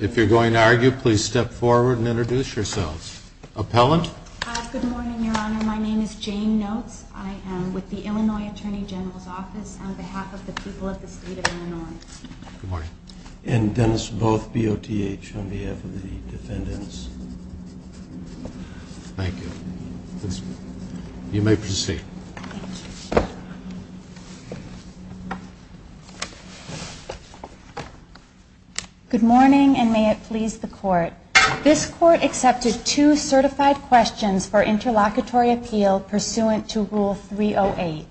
If you're going to argue, please step forward and introduce yourselves. Appellant? Good morning, Your Honor. My name is Jane Notes. I am with the Illinois Attorney General's Office on behalf of the people of the state of Illinois. Good morning. And Dennis Booth, BOTH, on behalf of the defendants. Thank you. You may proceed. Good morning, and may it please the Court. This Court accepted two certified questions for interlocutory appeal pursuant to Rule 308.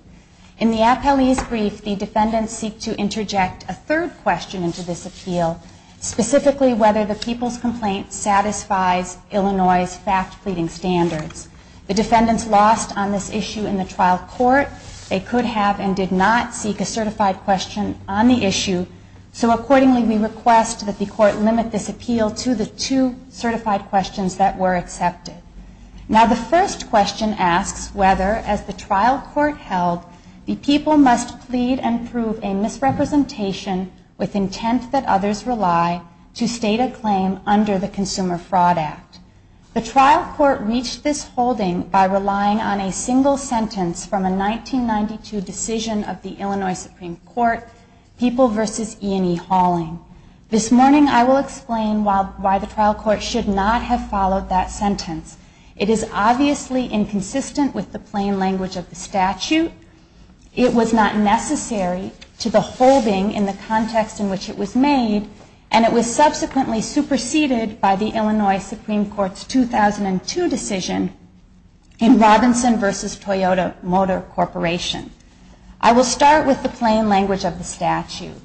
In the appellee's brief, the defendants seek to interject a third question into this appeal, specifically whether the people's complaint satisfies Illinois' fact pleading standards. The defendants lost on this issue in the trial court. They could have and did not seek a certified question on the issue. So accordingly, we request that the Court limit this appeal to the two certified questions that were accepted. Now, the first question asks whether, as the trial court held, the people must plead and prove a misrepresentation with intent that others rely to state a claim under the Consumer Fraud Act. The trial court reached this holding by relying on a single sentence from a 1992 decision of the Illinois Supreme Court, People v. E. and E. Hauling. This morning, I will explain why the trial court should not have followed that sentence. It is obviously inconsistent with the plain language of the statute. It was not necessary to the holding in the context in which it was made, and it was subsequently superseded by the Illinois Supreme Court's 2002 decision in Robinson v. Toyota Motor Corporation. I will start with the plain language of the statute.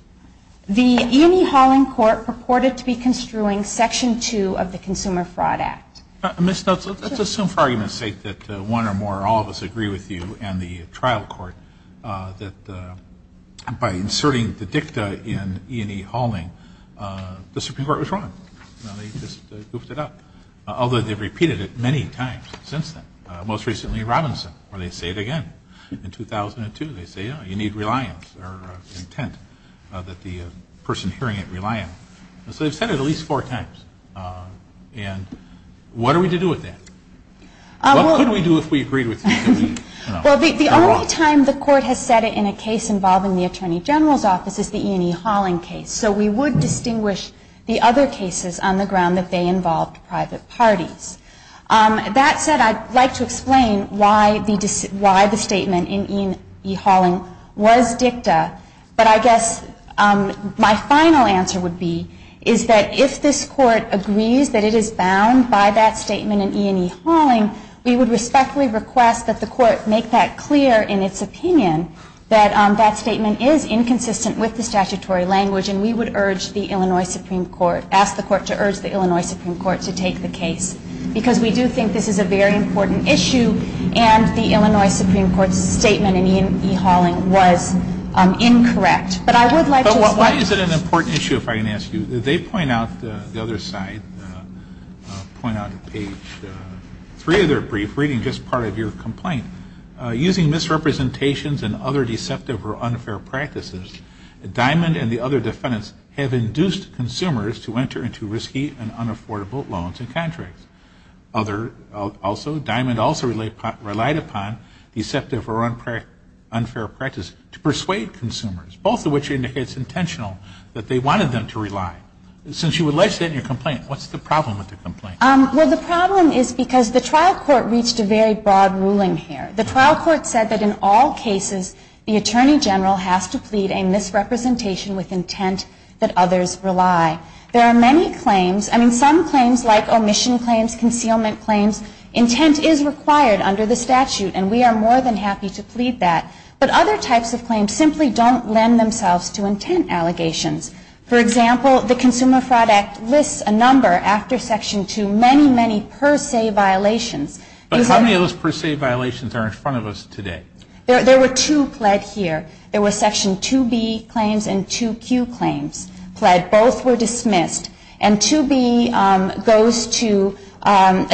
The E. and E. Hauling Court purported to be construing Section 2 of the Consumer Fraud Act. Ms. Nutzle, let's assume for argument's sake that one or more or all of us agree with you and the trial court that by inserting the dicta in E. and E. Hauling, the Supreme Court was wrong. You know, they just goofed it up, although they've repeated it many times since then, most recently in Robinson, where they say it again. In 2002, they say, yeah, you need reliance or intent that the person hearing it rely on it. So they've said it at least four times. And what are we to do with that? What could we do if we agreed with you? Well, the only time the court has said it in a case involving the Attorney General's office is the E. and E. Hauling case. So we would distinguish the other cases on the ground that they involved private parties. That said, I'd like to explain why the statement in E. and E. Hauling was dicta. But I guess my final answer would be is that if this Court agrees that it is bound by that statement in E. and E. Hauling, we would respectfully request that the Court make that clear in its opinion that that statement is inconsistent with the statutory language, and we would urge the Illinois Supreme Court, ask the Court to urge the Illinois Supreme Court to take the case because we do think this is a very important issue and the Illinois Supreme Court's statement in E. and E. Hauling was incorrect. But I would like to explain. But why is it an important issue, if I can ask you? They point out, the other side, point out on page three of their brief, reading just part of your complaint, using misrepresentations and other deceptive or unfair practices, Diamond and the other defendants have induced consumers to enter into risky and unaffordable loans and contracts. Other, also, Diamond also relied upon deceptive or unfair practice to persuade consumers, both of which indicates intentional that they wanted them to rely. Since you alleged that in your complaint, what's the problem with the complaint? Well, the problem is because the trial court reached a very broad ruling here. The trial court said that in all cases, the Attorney General has to plead a misrepresentation with intent that others rely. There are many claims, I mean, some claims like omission claims, concealment claims, intent is required under the statute, and we are more than happy to plead that. But other types of claims simply don't lend themselves to intent allegations. For example, the Consumer Fraud Act lists a number after Section 2, many, many per se violations. But how many of those per se violations are in front of us today? There were two pled here. There were Section 2B claims and 2Q claims pled, both were dismissed. And 2B goes to, a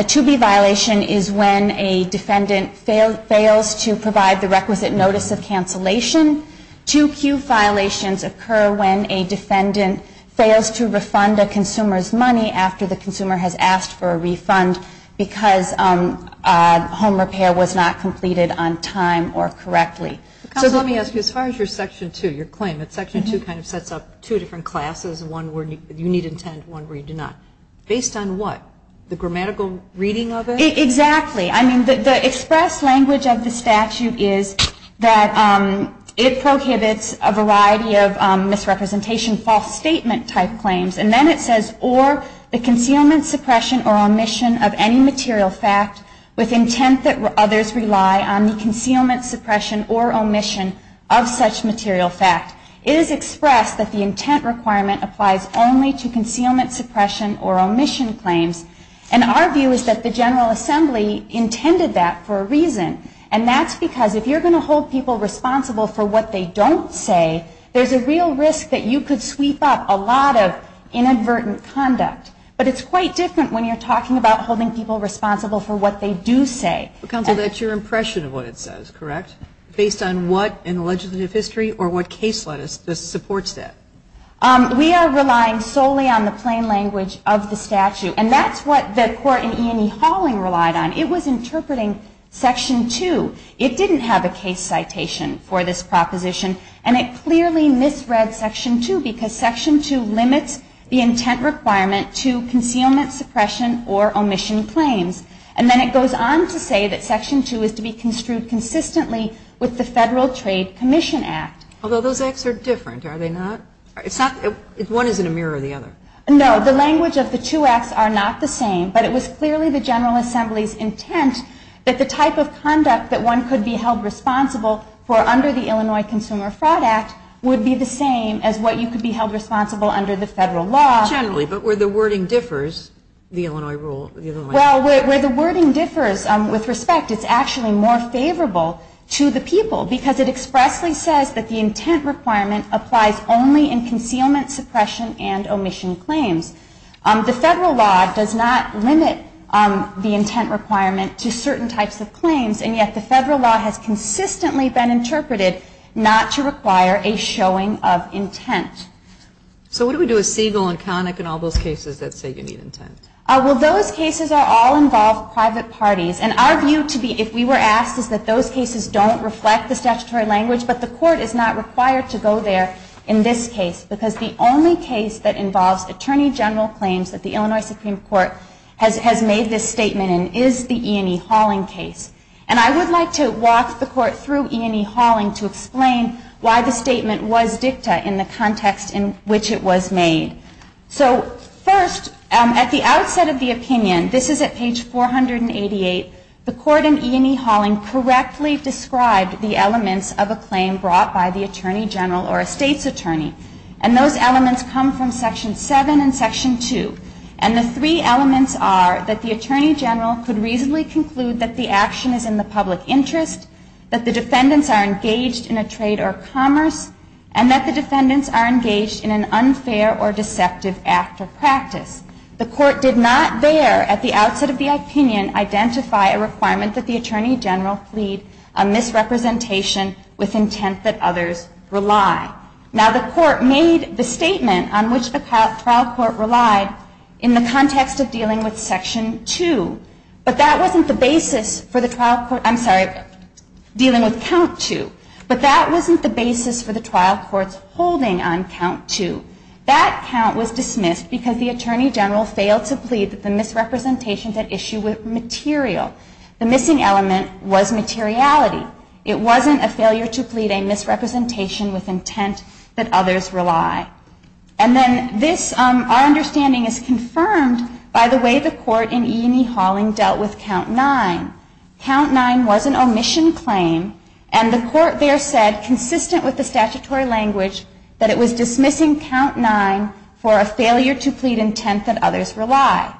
2B violation is when a defendant fails to provide the requisite notice of cancellation. 2Q violations occur when a defendant fails to refund a consumer's money after the consumer has asked for a refund because home repair was not completed on time or correctly. So let me ask you, as far as your Section 2, your claim, that Section 2 kind of sets up two different classes, one where you need intent, one where you do not. Based on what? The grammatical reading of it? Exactly. I mean, the express language of the statute is that it prohibits a variety of misrepresentation, type claims, and then it says, or the concealment, suppression, or omission of any material fact with intent that others rely on the concealment, suppression, or omission of such material fact. It is expressed that the intent requirement applies only to concealment, suppression, or omission claims. And our view is that the General Assembly intended that for a reason. And that's because if you're going to hold people responsible for what they don't say, there's a real risk that you could sweep up a lot of inadvertent conduct. But it's quite different when you're talking about holding people responsible for what they do say. Counsel, that's your impression of what it says, correct? Based on what in the legislative history or what case supports that? We are relying solely on the plain language of the statute. And that's what the Court in E&E Hauling relied on. It was interpreting Section 2. It didn't have a case citation for this proposition, and it clearly misread Section 2 because Section 2 limits the intent requirement to concealment, suppression, or omission claims. And then it goes on to say that Section 2 is to be construed consistently with the Federal Trade Commission Act. Although those acts are different, are they not? One is in a mirror of the other. No, the language of the two acts are not the same, but it was clearly the General Assembly's intent that the type of conduct that one could be held responsible for under the Illinois Consumer Fraud Act would be the same as what you could be held responsible under the Federal law. Generally, but where the wording differs, the Illinois rule. Well, where the wording differs with respect, it's actually more favorable to the people because it expressly says that the intent requirement applies only in concealment, suppression, and omission claims. The Federal law does not limit the intent requirement to certain types of claims, and yet the Federal law has consistently been interpreted not to require a showing of intent. So what do we do with Siegel and Connick and all those cases that say you need intent? Well, those cases are all involved private parties, and our view to be, if we were asked, is that those cases don't reflect the statutory language, but the Court is not required to go there in this case because the only case that involves Attorney General claims that the Illinois Supreme Court has made this statement in is the E. and E. Hauling case. And I would like to walk the Court through E. and E. Hauling to explain why the Court is not required to go there in the context in which it was made. So first, at the outset of the opinion, this is at page 488, the Court in E. and E. Hauling correctly described the elements of a claim brought by the Attorney General or a State's attorney, and those elements come from Section 7 and Section 2. And the three elements are that the Attorney General could reasonably conclude that the action is in the public interest, that the defendants are engaged in a trade deal, that the defendants are engaged in an unfair or deceptive act or practice. The Court did not there at the outset of the opinion identify a requirement that the Attorney General plead a misrepresentation with intent that others rely. Now, the Court made the statement on which the trial court relied in the context of dealing with Section 2, but that wasn't the basis for the trial court I'm sorry, dealing with Count 2, but that wasn't the basis for the trial court's whole intent to deal with Section 2. It was a misrepresentation with intent that others rely. And then this, our understanding is confirmed by the way the Court in E. and E. Hauling dealt with Count 9. Count 9 was an omission claim, and the Court there said, consistent with the statutory language, that the Court was dismissing Count 9 for a failure to plead intent that others rely.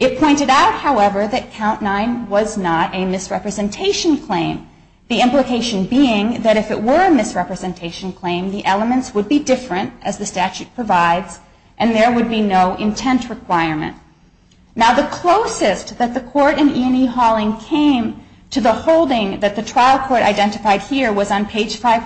It pointed out, however, that Count 9 was not a misrepresentation claim, the implication being that if it were a misrepresentation claim, the elements would be different, as the statute provides, and there would be no intent requirement. Now, the closest that the Court in E. and E. Hauling came to the holding that the Court in E. and E. Hauling did not identify as a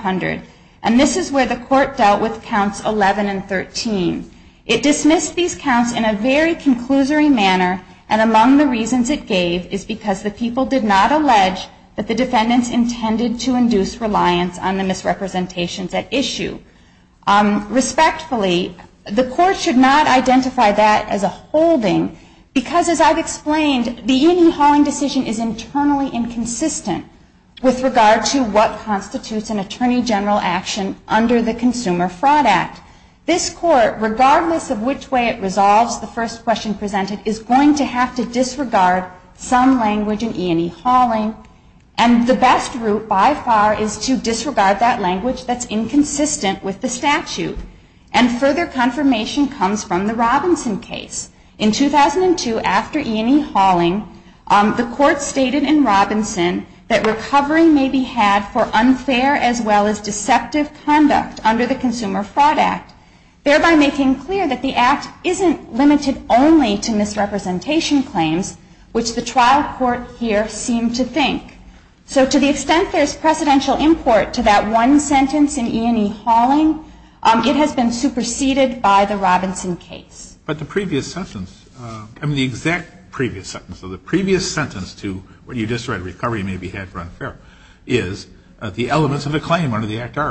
holding, because, as I've explained, the E. and E. Hauling decision is internally inconsistent with regard to what constitutes an attorney general action under the Consumer Friars Act. The Court in E. and E. Hauling did not identify as an attorney general action under the Consumer Friars Act. This Court, regardless of which way it resolves the first question presented, is going to have to disregard some language in E. and E. Hauling, and the best route by far is to disregard that language that's inconsistent with the statute. And further confirmation comes from the Robinson case. In 2002, after E. and E. Hauling, the Court stated in Robinson that recovery may be had for unfair as well as deceptive conduct under the Consumer Friars Act, thereby making clear that the Act isn't limited only to misrepresentation claims, which the trial court here seemed to think. So to the extent there's precedential import to that one sentence in E. and E. Hauling, it has been superseded by the Robinson case. But the previous sentence, I mean the exact previous sentence, so the previous sentence to what you just read, recovery may be had for unfair as well as deceptive conduct under the Consumer Friars Act. And the court here, regardless of which way it resolves the that language that's inconsistent with the statute. And further confirmation comes from the Court that recovery may be had for unfair as well as deceptive conduct under the Consumer Friars Act, thereby making clear that the Act isn't limited only to misrepresentation claims, which the practice offends public policy, whether it is oppressive,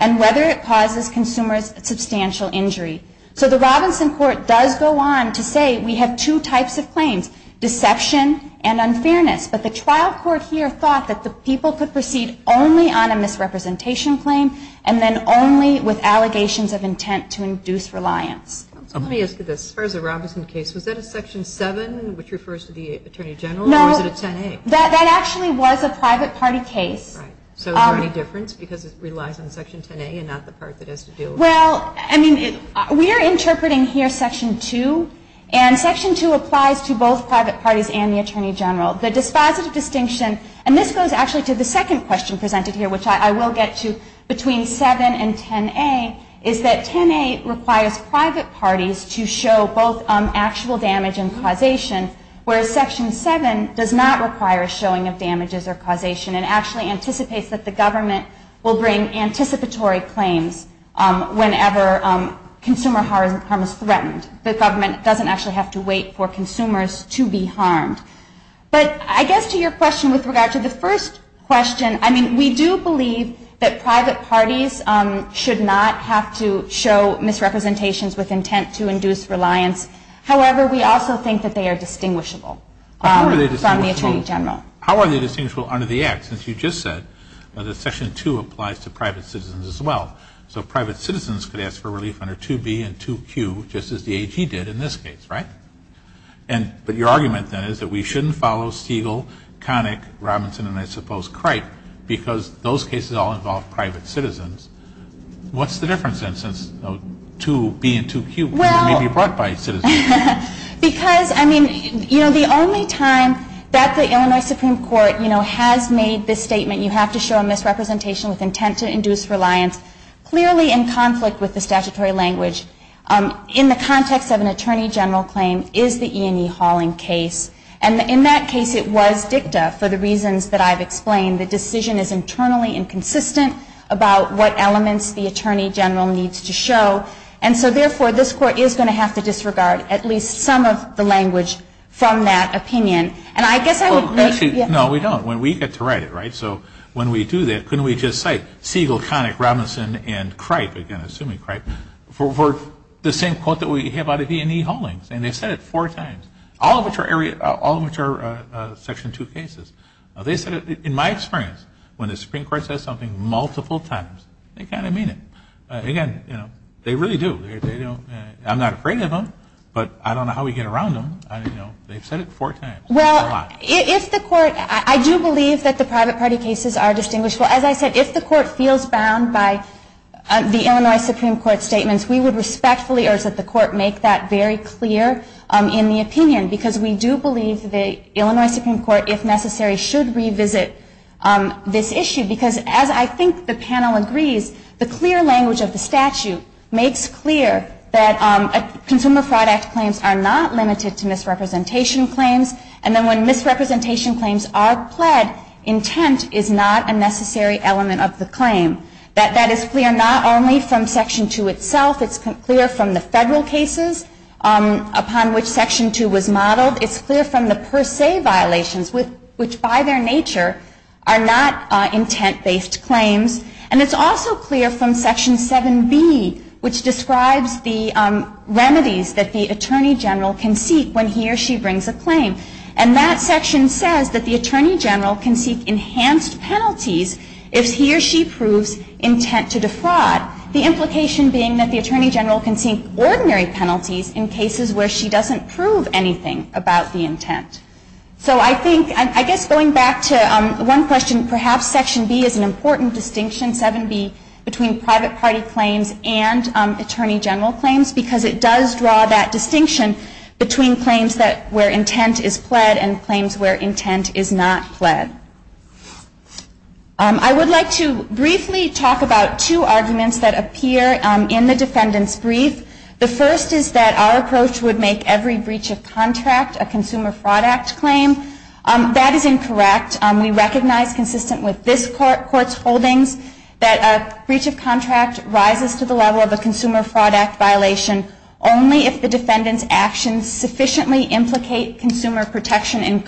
and whether it causes consumers substantial injury. So the Robinson court does go on to say we have two types of claims, deception and unfairness. But the trial court here thought that the people could proceed only on a to induce reliance. was that a Section 7, which refers to the Attorney General, or was it a 10A? That actually was a private party case. Well, I mean, we are interpreting here Section 2. And Section 2 applies to both private parties and the Attorney General. The dispositive distinction, and this goes actually to the second question presented here, which I will get to between 7 and 10A, is that 10A, the state requires private parties to show both actual damage and causation, whereas Section 7 does not require showing of damages or causation. It actually anticipates that the government will bring anticipatory claims whenever consumer harm is threatened. The government doesn't actually have to wait for consumers to be harmed. But I guess to your question with regard to the first question, I mean, we do believe that private parties should not have to show misrepresentations with intent to induce reliance. However, we also think that they are distinguishable from the Attorney General. How are they distinguishable under the Act, since you just said that Section 2 applies to private citizens as well? So private citizens could ask for relief under 2B and 2Q, just as the AG did in this case, right? But your argument, then, is that we shouldn't follow Stigall, Connick, Robinson and, I suppose, Cripe, because those cases all involve private citizens. What's the difference, then, since 2B and 2Q may be brought by citizens? Because, I mean, you know, the only time that the Illinois Supreme Court, you know, has made this statement, you have to show a misrepresentation with intent to induce reliance, clearly in conflict with the statutory language, in the context of an Attorney General claim, is the E&E Hauling case. And in that case, it was dicta for the reasons that I've explained. The decision is internally inconsistent about what elements the Attorney General needs to show. And so, therefore, this Court is going to have to disregard at least some of the language from that opinion. And I guess I would leave... No, we don't. We get to write it, right? So when we do that, couldn't we just cite Stigall, Connick, Robinson and Cripe, again, assuming Cripe, for the same quote that we have about the E&E Haulings? And they've said it four times, all of which are Section 2 cases. They said it, in my experience, when the Supreme Court says something multiple times, they kind of mean it. Again, you know, they really do. I'm not afraid of them, but I don't know how we get around them. You know, they've said it four times. Well, if the Court... I do believe that the private party cases are distinguishable. As I said, if the Court feels bound by the Illinois Supreme Court statements, we would respectfully urge that the Court make that very clear in the opinion, because we do believe the Illinois Supreme Court, if necessary, should revisit this issue. Because as I think the panel agrees, the clear language of the statute makes clear that Consumer Fraud Act claims are not limited to misrepresentation claims. And then when misrepresentation claims are pled, intent is not a necessary element of the claim. That is clear not only from Section 2 itself. It's clear from the federal cases upon which Section 2 was modeled. It's clear from the per se violations, which by their nature are not intent-based claims. And it's also clear from Section 7B, which describes the remedies that the Attorney General can seek when he or she brings a claim. And that section says that the Attorney General can seek enhanced penalties if he or she proves intent to defraud. The implication being that the Attorney General can seek ordinary penalties in cases where she doesn't prove anything about the intent. So I think... I guess going back to one question, perhaps Section B is an important distinction, 7B, between private party claims and Attorney General claims, because it does draw that distinction between claims where intent is pled and claims where intent is not pled. I would like to briefly talk about two arguments that appear in the defendant's brief. The first is that our approach would make every breach of contract a Consumer Fraud Act claim. That is incorrect. We recognize, consistent with this Court's holdings, that a breach of contract rises to the level of a Consumer Fraud Act violation only if the defendant's actions sufficiently implicate consumer protection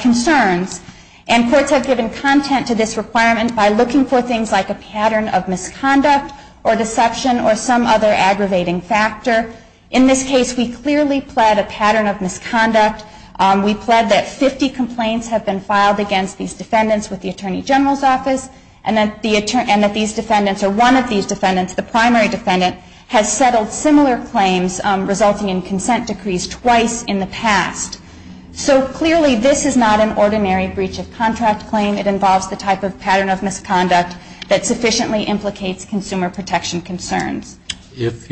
concerns. And courts have given content to this requirement by looking for things like a pattern of misconduct or deception or some other aggravating factor. In this case, we clearly pled a pattern of misconduct. We pled that 50 complaints have been filed against these defendants with the Attorney General's office and that these defendants or one of these defendants, the primary defendant, has settled similar claims resulting in consent decrees twice in the past. So clearly, this is not an ordinary breach of contract claim. It involves the type of pattern of misconduct that sufficiently implicates consumer protection concerns. Okay. Thank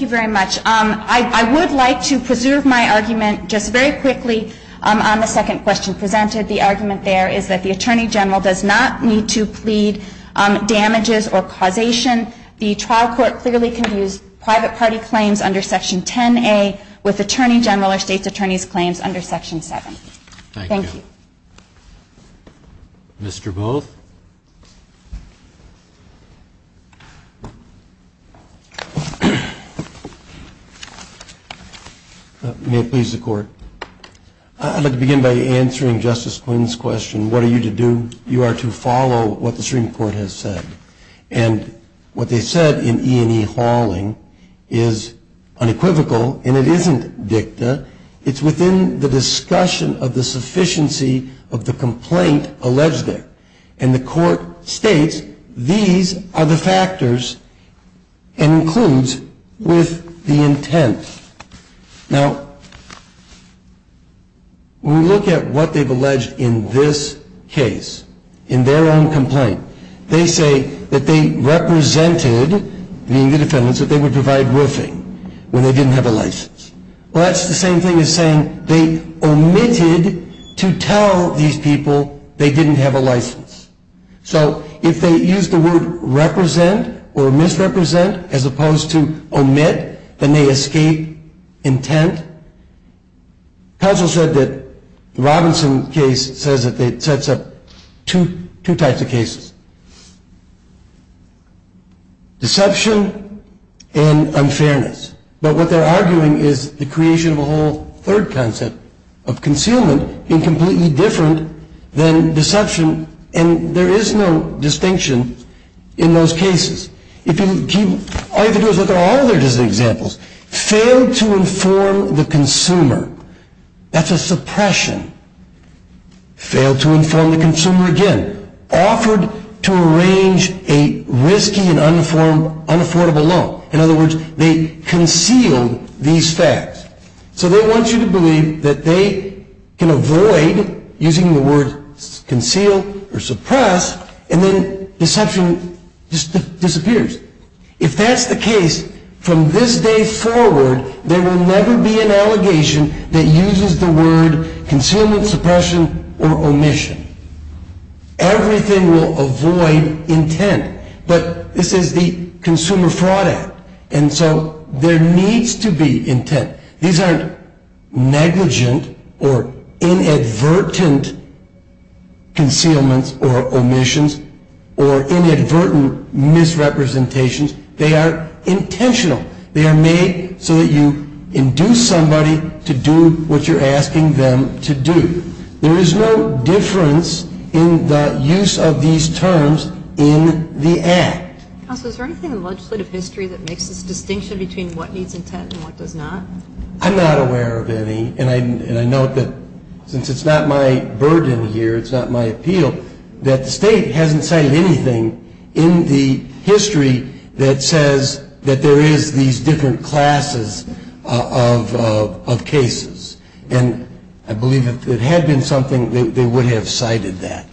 you very much. I would like to preserve my argument just very quickly on the second question presented. The argument there is that the Attorney General does not need to plead damages or causation. The trial court clearly can use private party claims under Section 10A with Attorney General or State's Attorney's claims under Section 7. Thank you. May it please the Court. I'd like to begin by answering Justice Quinn's question. What are you to do? You are to follow what the Supreme Court has said. And what they said in E&E hauling is that the Supreme Court has said that the Supreme Court has said that the Supreme Court has said that the constitutional evidence is unequivocal and it isn't dicta, it's within the discussion of the sufficiency of the complaint alleged there. And the Court states these are the factors and includes with the intent. Now, when we look at what they've alleged in this case, in their own complaint, they say that they represented, being the defendants, that they would provide roofing when they didn't have a license. Well, that's the same thing as saying they omitted to tell these people they didn't have a license. So, if they use the word represent or misrepresent as opposed to omit, then they escape intent. Counsel said that the Robinson case sets up two types of cases. Deception and misrepresentation. And unfairness. But what they're arguing is the creation of a whole third concept of concealment being completely different than deception, and there is no distinction in those cases. All you have to do is look at all their different examples. Failed to inform the consumer. That's a suppression. Failed to inform the consumer again. Offered to arrange a risky and unaffordable loan. In other words, they concealed these facts. So they want you to believe that they can avoid using the word conceal or suppress, and then deception just disappears. If that's the case, from this day forward, there will never be an allegation that uses the word concealment, suppression, or omission. Everything will avoid intent. But this is the Consumer Fraud Act, and so there needs to be intent. These aren't negligent or inadvertent concealments or omissions or inadvertent misrepresentations. They are intentional. They are made so that you induce somebody to do what you're asking them to do. There is no difference in the use of these terms in the Act. Counsel, is there anything in legislative history that makes this distinction between what needs intent and what does not? I'm not aware of any, and I note that since it's not my burden here, it's not my appeal, that the state hasn't cited anything in the history that says that there is these different classes of cases. And I believe if it had been something, they would have cited that.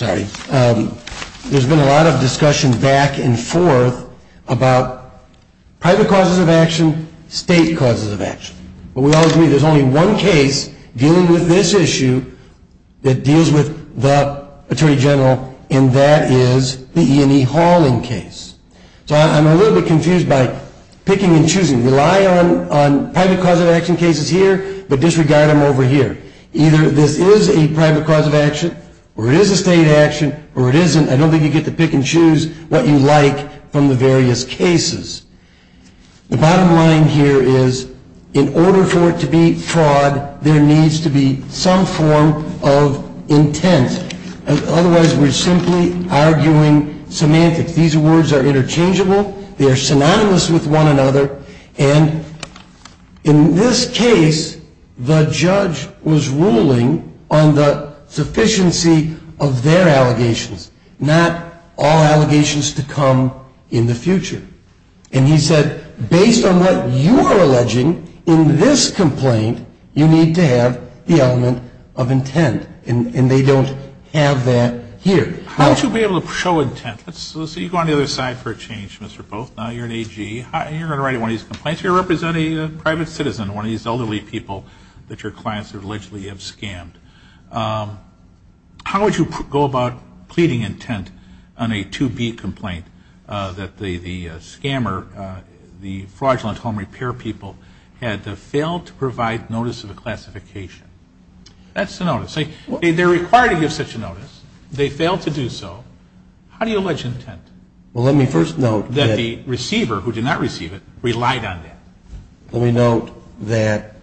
There's been a lot of discussion back and forth about private causes of action, state causes of action. But we all agree there's only one case dealing with this issue that deals with the Attorney General, and that is the E&E hauling case. So I'm a little bit confused by picking and choosing, rely on private cause of action cases here, but disregard them over here. Either this is a private cause of action, or it is a state action, or it isn't, I don't think you get to pick and choose what you like from the various cases. The bottom line here is, in order for it to be fraud, there needs to be some form of intent. Otherwise, we're simply arguing semantics. These words are interchangeable, they are synonymous with one another, and in this case, the judge was ruling on the sufficiency of their allegations, not all allegations to come in the future. And he said, based on what you are alleging in this complaint, you need to have the element of intent. And they don't have that here. How would you be able to show intent? Let's say you go on the other side for a change, Mr. Booth, now you're an AG, and you're going to write one of these complaints, you're representing a private citizen, one of these elderly people that your clients allegedly have scammed. How would you go about pleading intent on a 2B complaint that the scammer, the fraudulent home repair people had failed to provide notice of a classification? That's the notice. They're required to give such a notice, they failed to do so, how do you allege intent? Well, let me first note that the receiver, who did not receive it, relied on that. Let me note that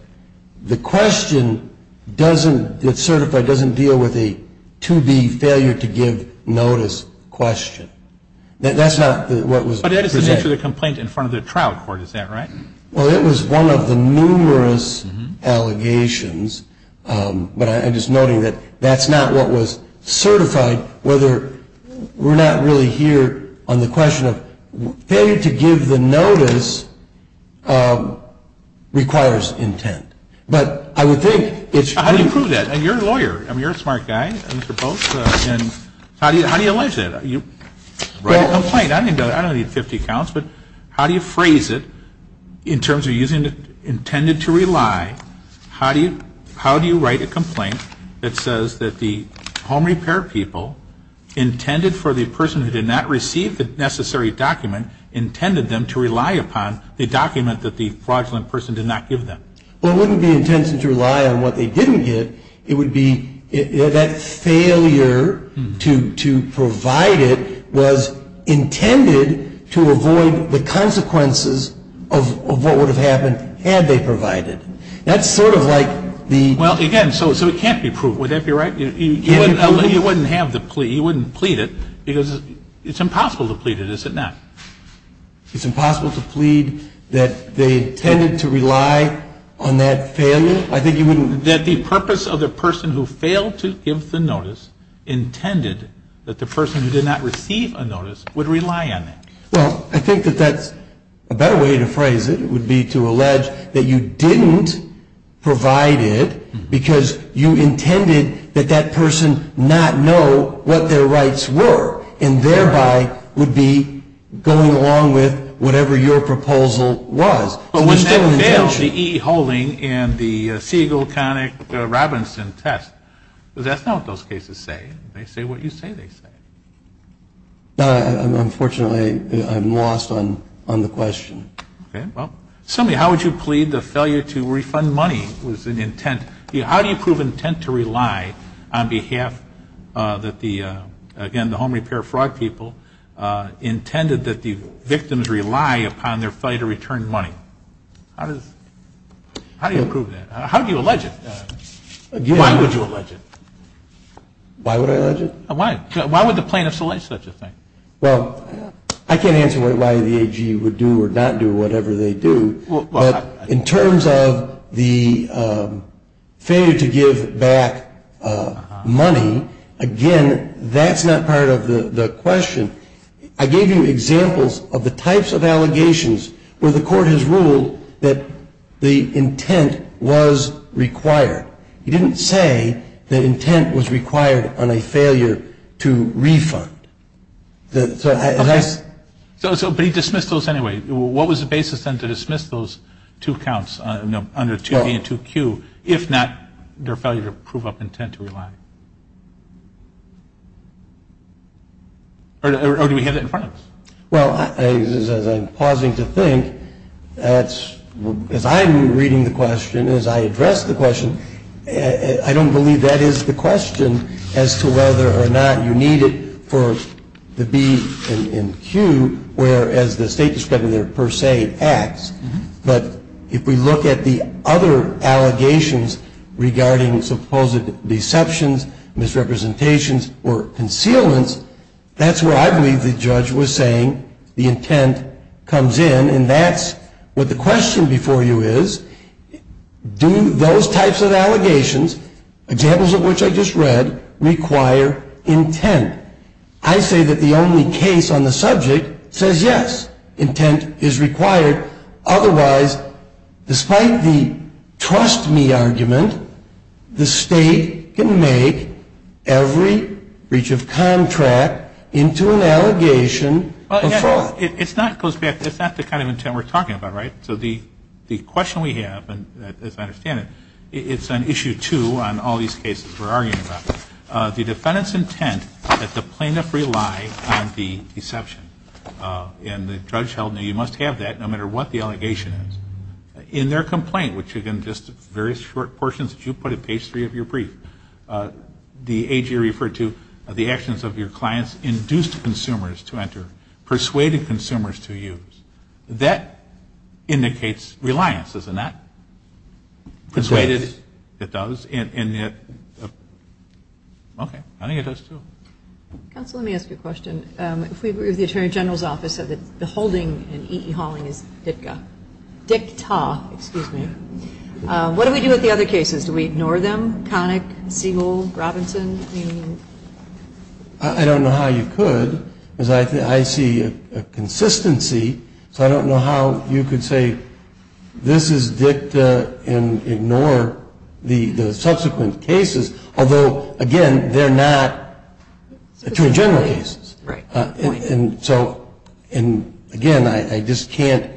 the question that's certified doesn't deal with a 2B failure to give notice question. That's not what was presented. But that is the nature of the complaint in front of the trial court, is that right? Well, it was one of the numerous allegations, but I'm just noting that that's not what was certified, whether we're not really here on the question of failure to give the notice requires intent. But I would think it's true. And you're a lawyer, you're a smart guy, how do you allege that? You write a complaint, I don't need 50 counts, but how do you phrase it in terms of using intended to rely? How do you write a complaint that says that the home repair people intended for the person who did not receive the necessary document, intended them to rely upon the document that the fraudulent person did not give them? Well, it wouldn't be intended to rely on what they didn't give. It would be that failure to provide it was intended to avoid the consequences of what would have happened had they provided. That's sort of like the... Well, again, so it can't be proved. Would that be right? You wouldn't have the plea, you wouldn't plead it, because it's impossible to plead it, is it not? It's impossible to plead that they intended to rely on that failure? That the purpose of the person who failed to give the notice intended that the person who did not receive a notice would rely on that. Well, I think that that's a better way to phrase it, would be to allege that you didn't provide it because you intended that that person did not receive a notice. You intended that that person not know what their rights were, and thereby would be going along with whatever your proposal was. But wouldn't that fail the E.E. Hulling and the Siegel, Connick, Robinson test? Because that's not what those cases say. They say what you say they say. Unfortunately, I'm lost on the question. Okay, well, somebody, how would you plead the failure to refund money was an intent? How do you prove intent to rely on behalf that the, again, the home repair fraud people intended that the victims rely upon their failure to return money? How do you prove that? How do you allege it? Why would you allege it? Why would I allege it? Why would the plaintiff select such a thing? Well, I can't answer why the AG would do or not do whatever they do. But in terms of the failure to give back money, again, that's not part of the question. I gave you examples of the types of allegations where the court has ruled that the intent was required. He didn't say that intent was required on a failure to refund. But he dismissed those anyway. What was the basis then to dismiss those two counts under 2B and 2Q if not their failure to prove up intent to rely? Or do we have that in front of us? Well, as I'm pausing to think, as I'm reading the question, as I address the question, I don't believe that is the question as to whether or not you need it for the B and Q, whereas the state discriminator per se acts. But if we look at the other allegations regarding supposed deceptions, misrepresentations, or concealments, that's where I believe the judge was saying the intent comes in. And that's what the question before you is, do those types of allegations, examples of which I just read, require intent? I say that the only case on the subject says yes, intent is required. Otherwise, despite the trust me argument, the state can make every breach of contract into an allegation before. It's not the kind of intent we're talking about, right? So the question we have, as I understand it, it's on issue two on all these cases we're arguing about. The defendant's intent is that the plaintiff rely on the deception. And the judge held that you must have that no matter what the allegation is. In their complaint, which again, just various short portions that you put at page three of your brief, the AG referred to the actions of your clients induced consumers to enter, persuaded consumers to use. That indicates reliance, doesn't it? It does. Okay, I think it does, too. Counsel, let me ask you a question. The Attorney General's office said that the holding in E.E. Hawling is DICTA. What do we do with the other cases? Do we ignore them, Connick, Siegel, Robinson? I don't know how you could. I see a consistency, so I don't know how you could say this is DICTA and ignore the subsequent cases, although, again, they're not Attorney General cases. And so, again, I just can't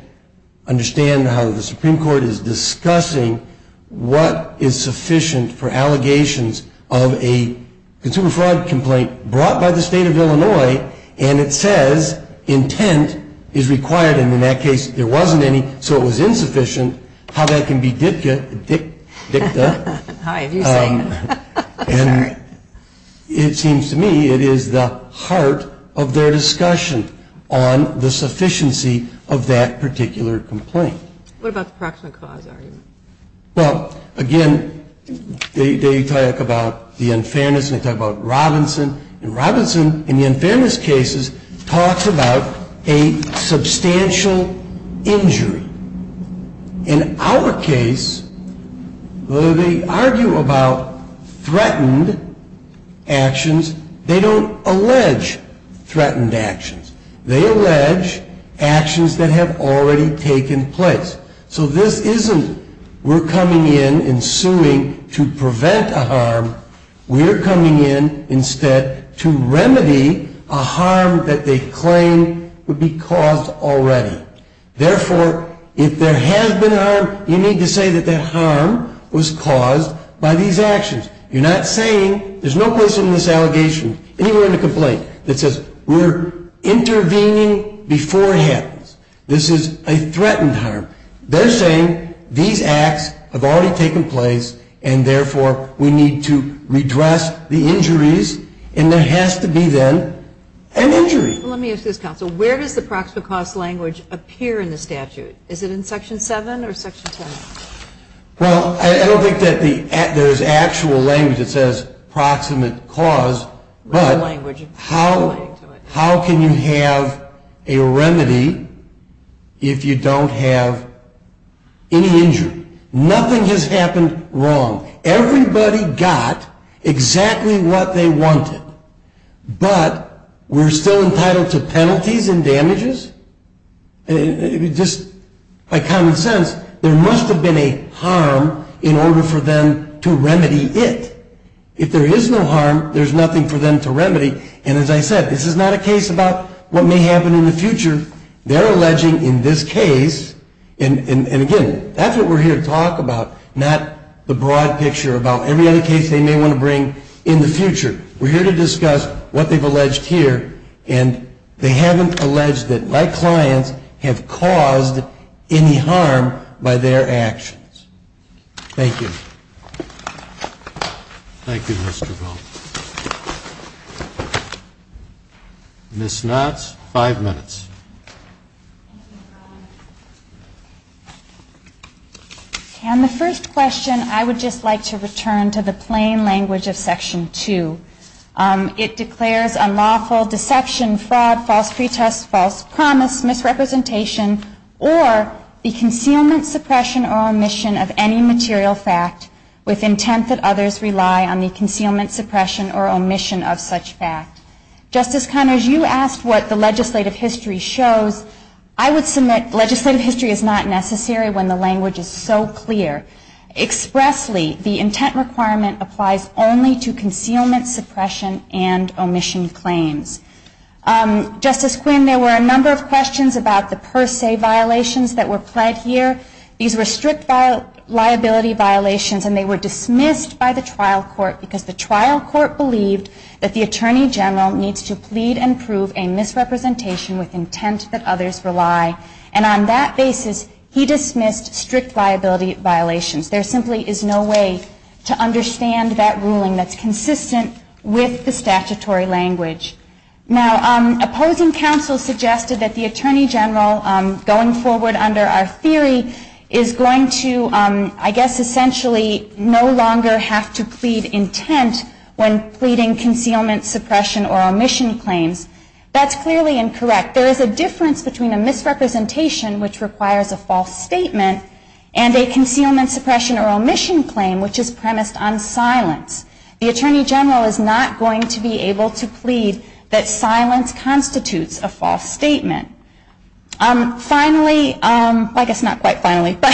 understand how the Supreme Court is discussing what is sufficient for allegations of a consumer fraud complaint brought by the State of Illinois, and it says intent is required. And in that case, there wasn't any, so it was insufficient. How that can be DICTA? It seems to me it is the heart of their discussion on the sufficiency of that particular complaint. What about the proximate cause argument? Well, again, they talk about the unfairness and they talk about Robinson. And Robinson, in the unfairness cases, talks about a substantial injury. In our case, although they argue about threatened actions, they don't allege threatened actions. They allege actions that have already taken place. So this isn't we're coming in and suing to prevent a harm. We're coming in instead to remedy a harm that they claim would be caused already. Therefore, if there has been harm, you need to say that that harm was caused by these actions. You're not saying there's no place in this allegation, anywhere in the complaint, that says we're intervening beforehand. This is a threatened harm. They're saying these acts have already taken place and, therefore, we need to redress the injuries. And there has to be, then, an injury. Let me ask this, counsel. Where does the proximate cause language appear in the statute? Is it in Section 7 or Section 10? Well, I don't think that there's actual language that says proximate cause. But how can you have a remedy if you don't have any injury? Nothing has happened wrong. Everybody got exactly what they wanted. But we're still entitled to penalties and damages? Just by common sense, there must have been a harm in order for them to remedy it. If there is no harm, there's nothing for them to remedy. And as I said, this is not a case about what may happen in the future. They're alleging in this case, and again, that's what we're here to talk about, not the broad picture about every other case they may want to bring in the future. We're here to discuss what they've alleged here, and they haven't alleged that my clients have caused any harm by their actions. Thank you. Ms. Knotts, five minutes. And the first question, I would just like to return to the plain language of Section 2. It declares unlawful deception, fraud, false pretest, false promise, misrepresentation, or the concealment, suppression, or omission of any material fact with intent that others rely on the concealment, suppression, or omission of such fact. Justice Connors, you asked what the legislative history shows. I would submit legislative history is not necessary when the language is so clear. Expressly, the intent requirement applies only to concealment, suppression, and omission claims. Justice Quinn, there were a number of questions about the per se violations that were pled here. These were strict liability violations, and they were dismissed by the trial court because the trial court believed that the attorney general needs to plead and prove a misrepresentation with intent that others rely. And on that basis, he dismissed strict liability violations. There simply is no way to understand that ruling that's consistent with the statutory language. Now, opposing counsel suggested that the attorney general, going forward under our theory, is going to, I guess, essentially no longer have to plead intent when pleading concealment, suppression, or omission claims. That's clearly incorrect. There is a difference between a misrepresentation, which requires a false statement, and a concealment, suppression, or omission claim, which is premised on silence. The attorney general is not going to be able to plead that silence constitutes a false statement. Finally, I guess not quite finally, but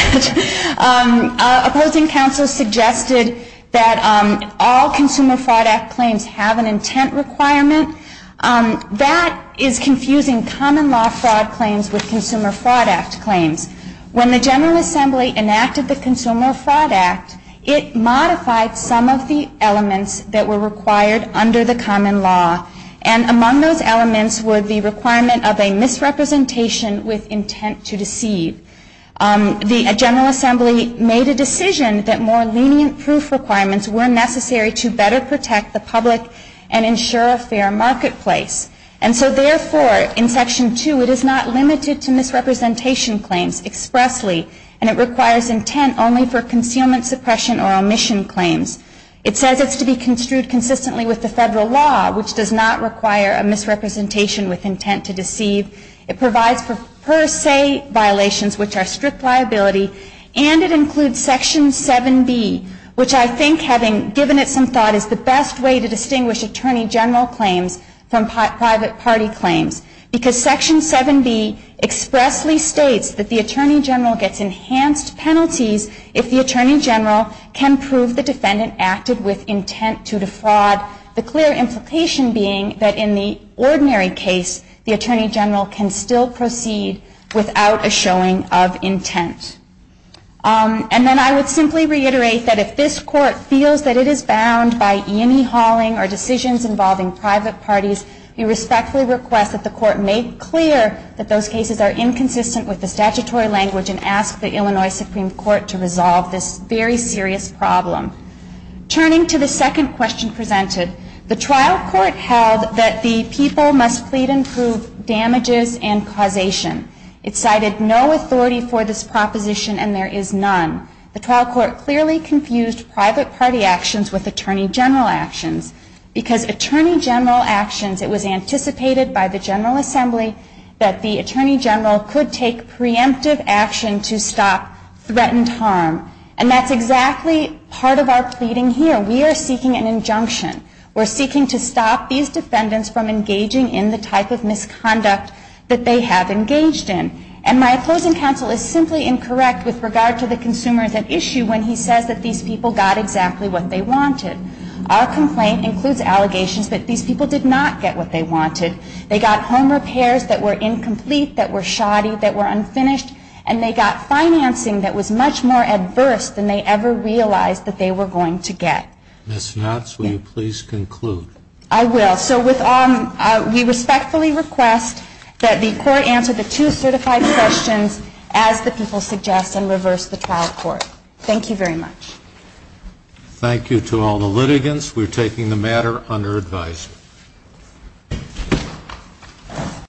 opposing counsel suggested that all Consumer Fraud Act claims have an intent requirement. That is confusing common law fraud claims with Consumer Fraud Act claims. When the General Assembly enacted the Consumer Fraud Act, it modified some of the elements that were required under the common law. And among those elements were the requirement of a misrepresentation with intent to deceive. The General Assembly made a decision that more lenient proof requirements were necessary to better protect the public and ensure a fair marketplace. And so therefore, in Section 2, it is not limited to misrepresentation claims expressly, and it requires intent only for concealment, suppression, or omission claims. It says it's to be construed consistently with the Federal law, which does not require a misrepresentation with intent to deceive. It provides for per se violations, which are strict liability. And it includes Section 7B, which I think, having given it some thought, is the best way to distinguish attorney general claims from private party claims. Because Section 7B expressly states that the attorney general gets enhanced penalties if the attorney general can prove the defendant is guilty. And it states that the attorney general can prove the defendant acted with intent to defraud, the clear implication being that in the ordinary case, the attorney general can still proceed without a showing of intent. And then I would simply reiterate that if this Court feels that it is bound by yinny-hauling or decisions involving private parties, we respectfully request that the Court make clear that those cases are inconsistent with the statutory language and ask the Illinois Supreme Court to resolve this very serious problem. Turning to the second question presented, the trial court held that the people must plead and prove damages and causation. It cited no authority for this proposition, and there is none. The trial court clearly confused private party actions with attorney general actions. Because attorney general actions, it was anticipated by the General Assembly that the attorney general could take preemptive action to stop threatened harm. And that's exactly part of our pleading here. We are seeking an injunction. We're seeking to stop these defendants from engaging in the type of misconduct that they have engaged in. And my opposing counsel is simply incorrect with regard to the consumers at issue when he says that these people got exactly what they wanted. Our complaint includes allegations that these people did not get what they wanted. They got home repairs that were incomplete, that were shoddy, that were unfinished. And they got financing that was much more adverse than they ever realized that they were going to get. Ms. Knotts, will you please conclude? I will. So we respectfully request that the Court answer the two certified questions as the people suggest and reverse the trial court. Thank you very much.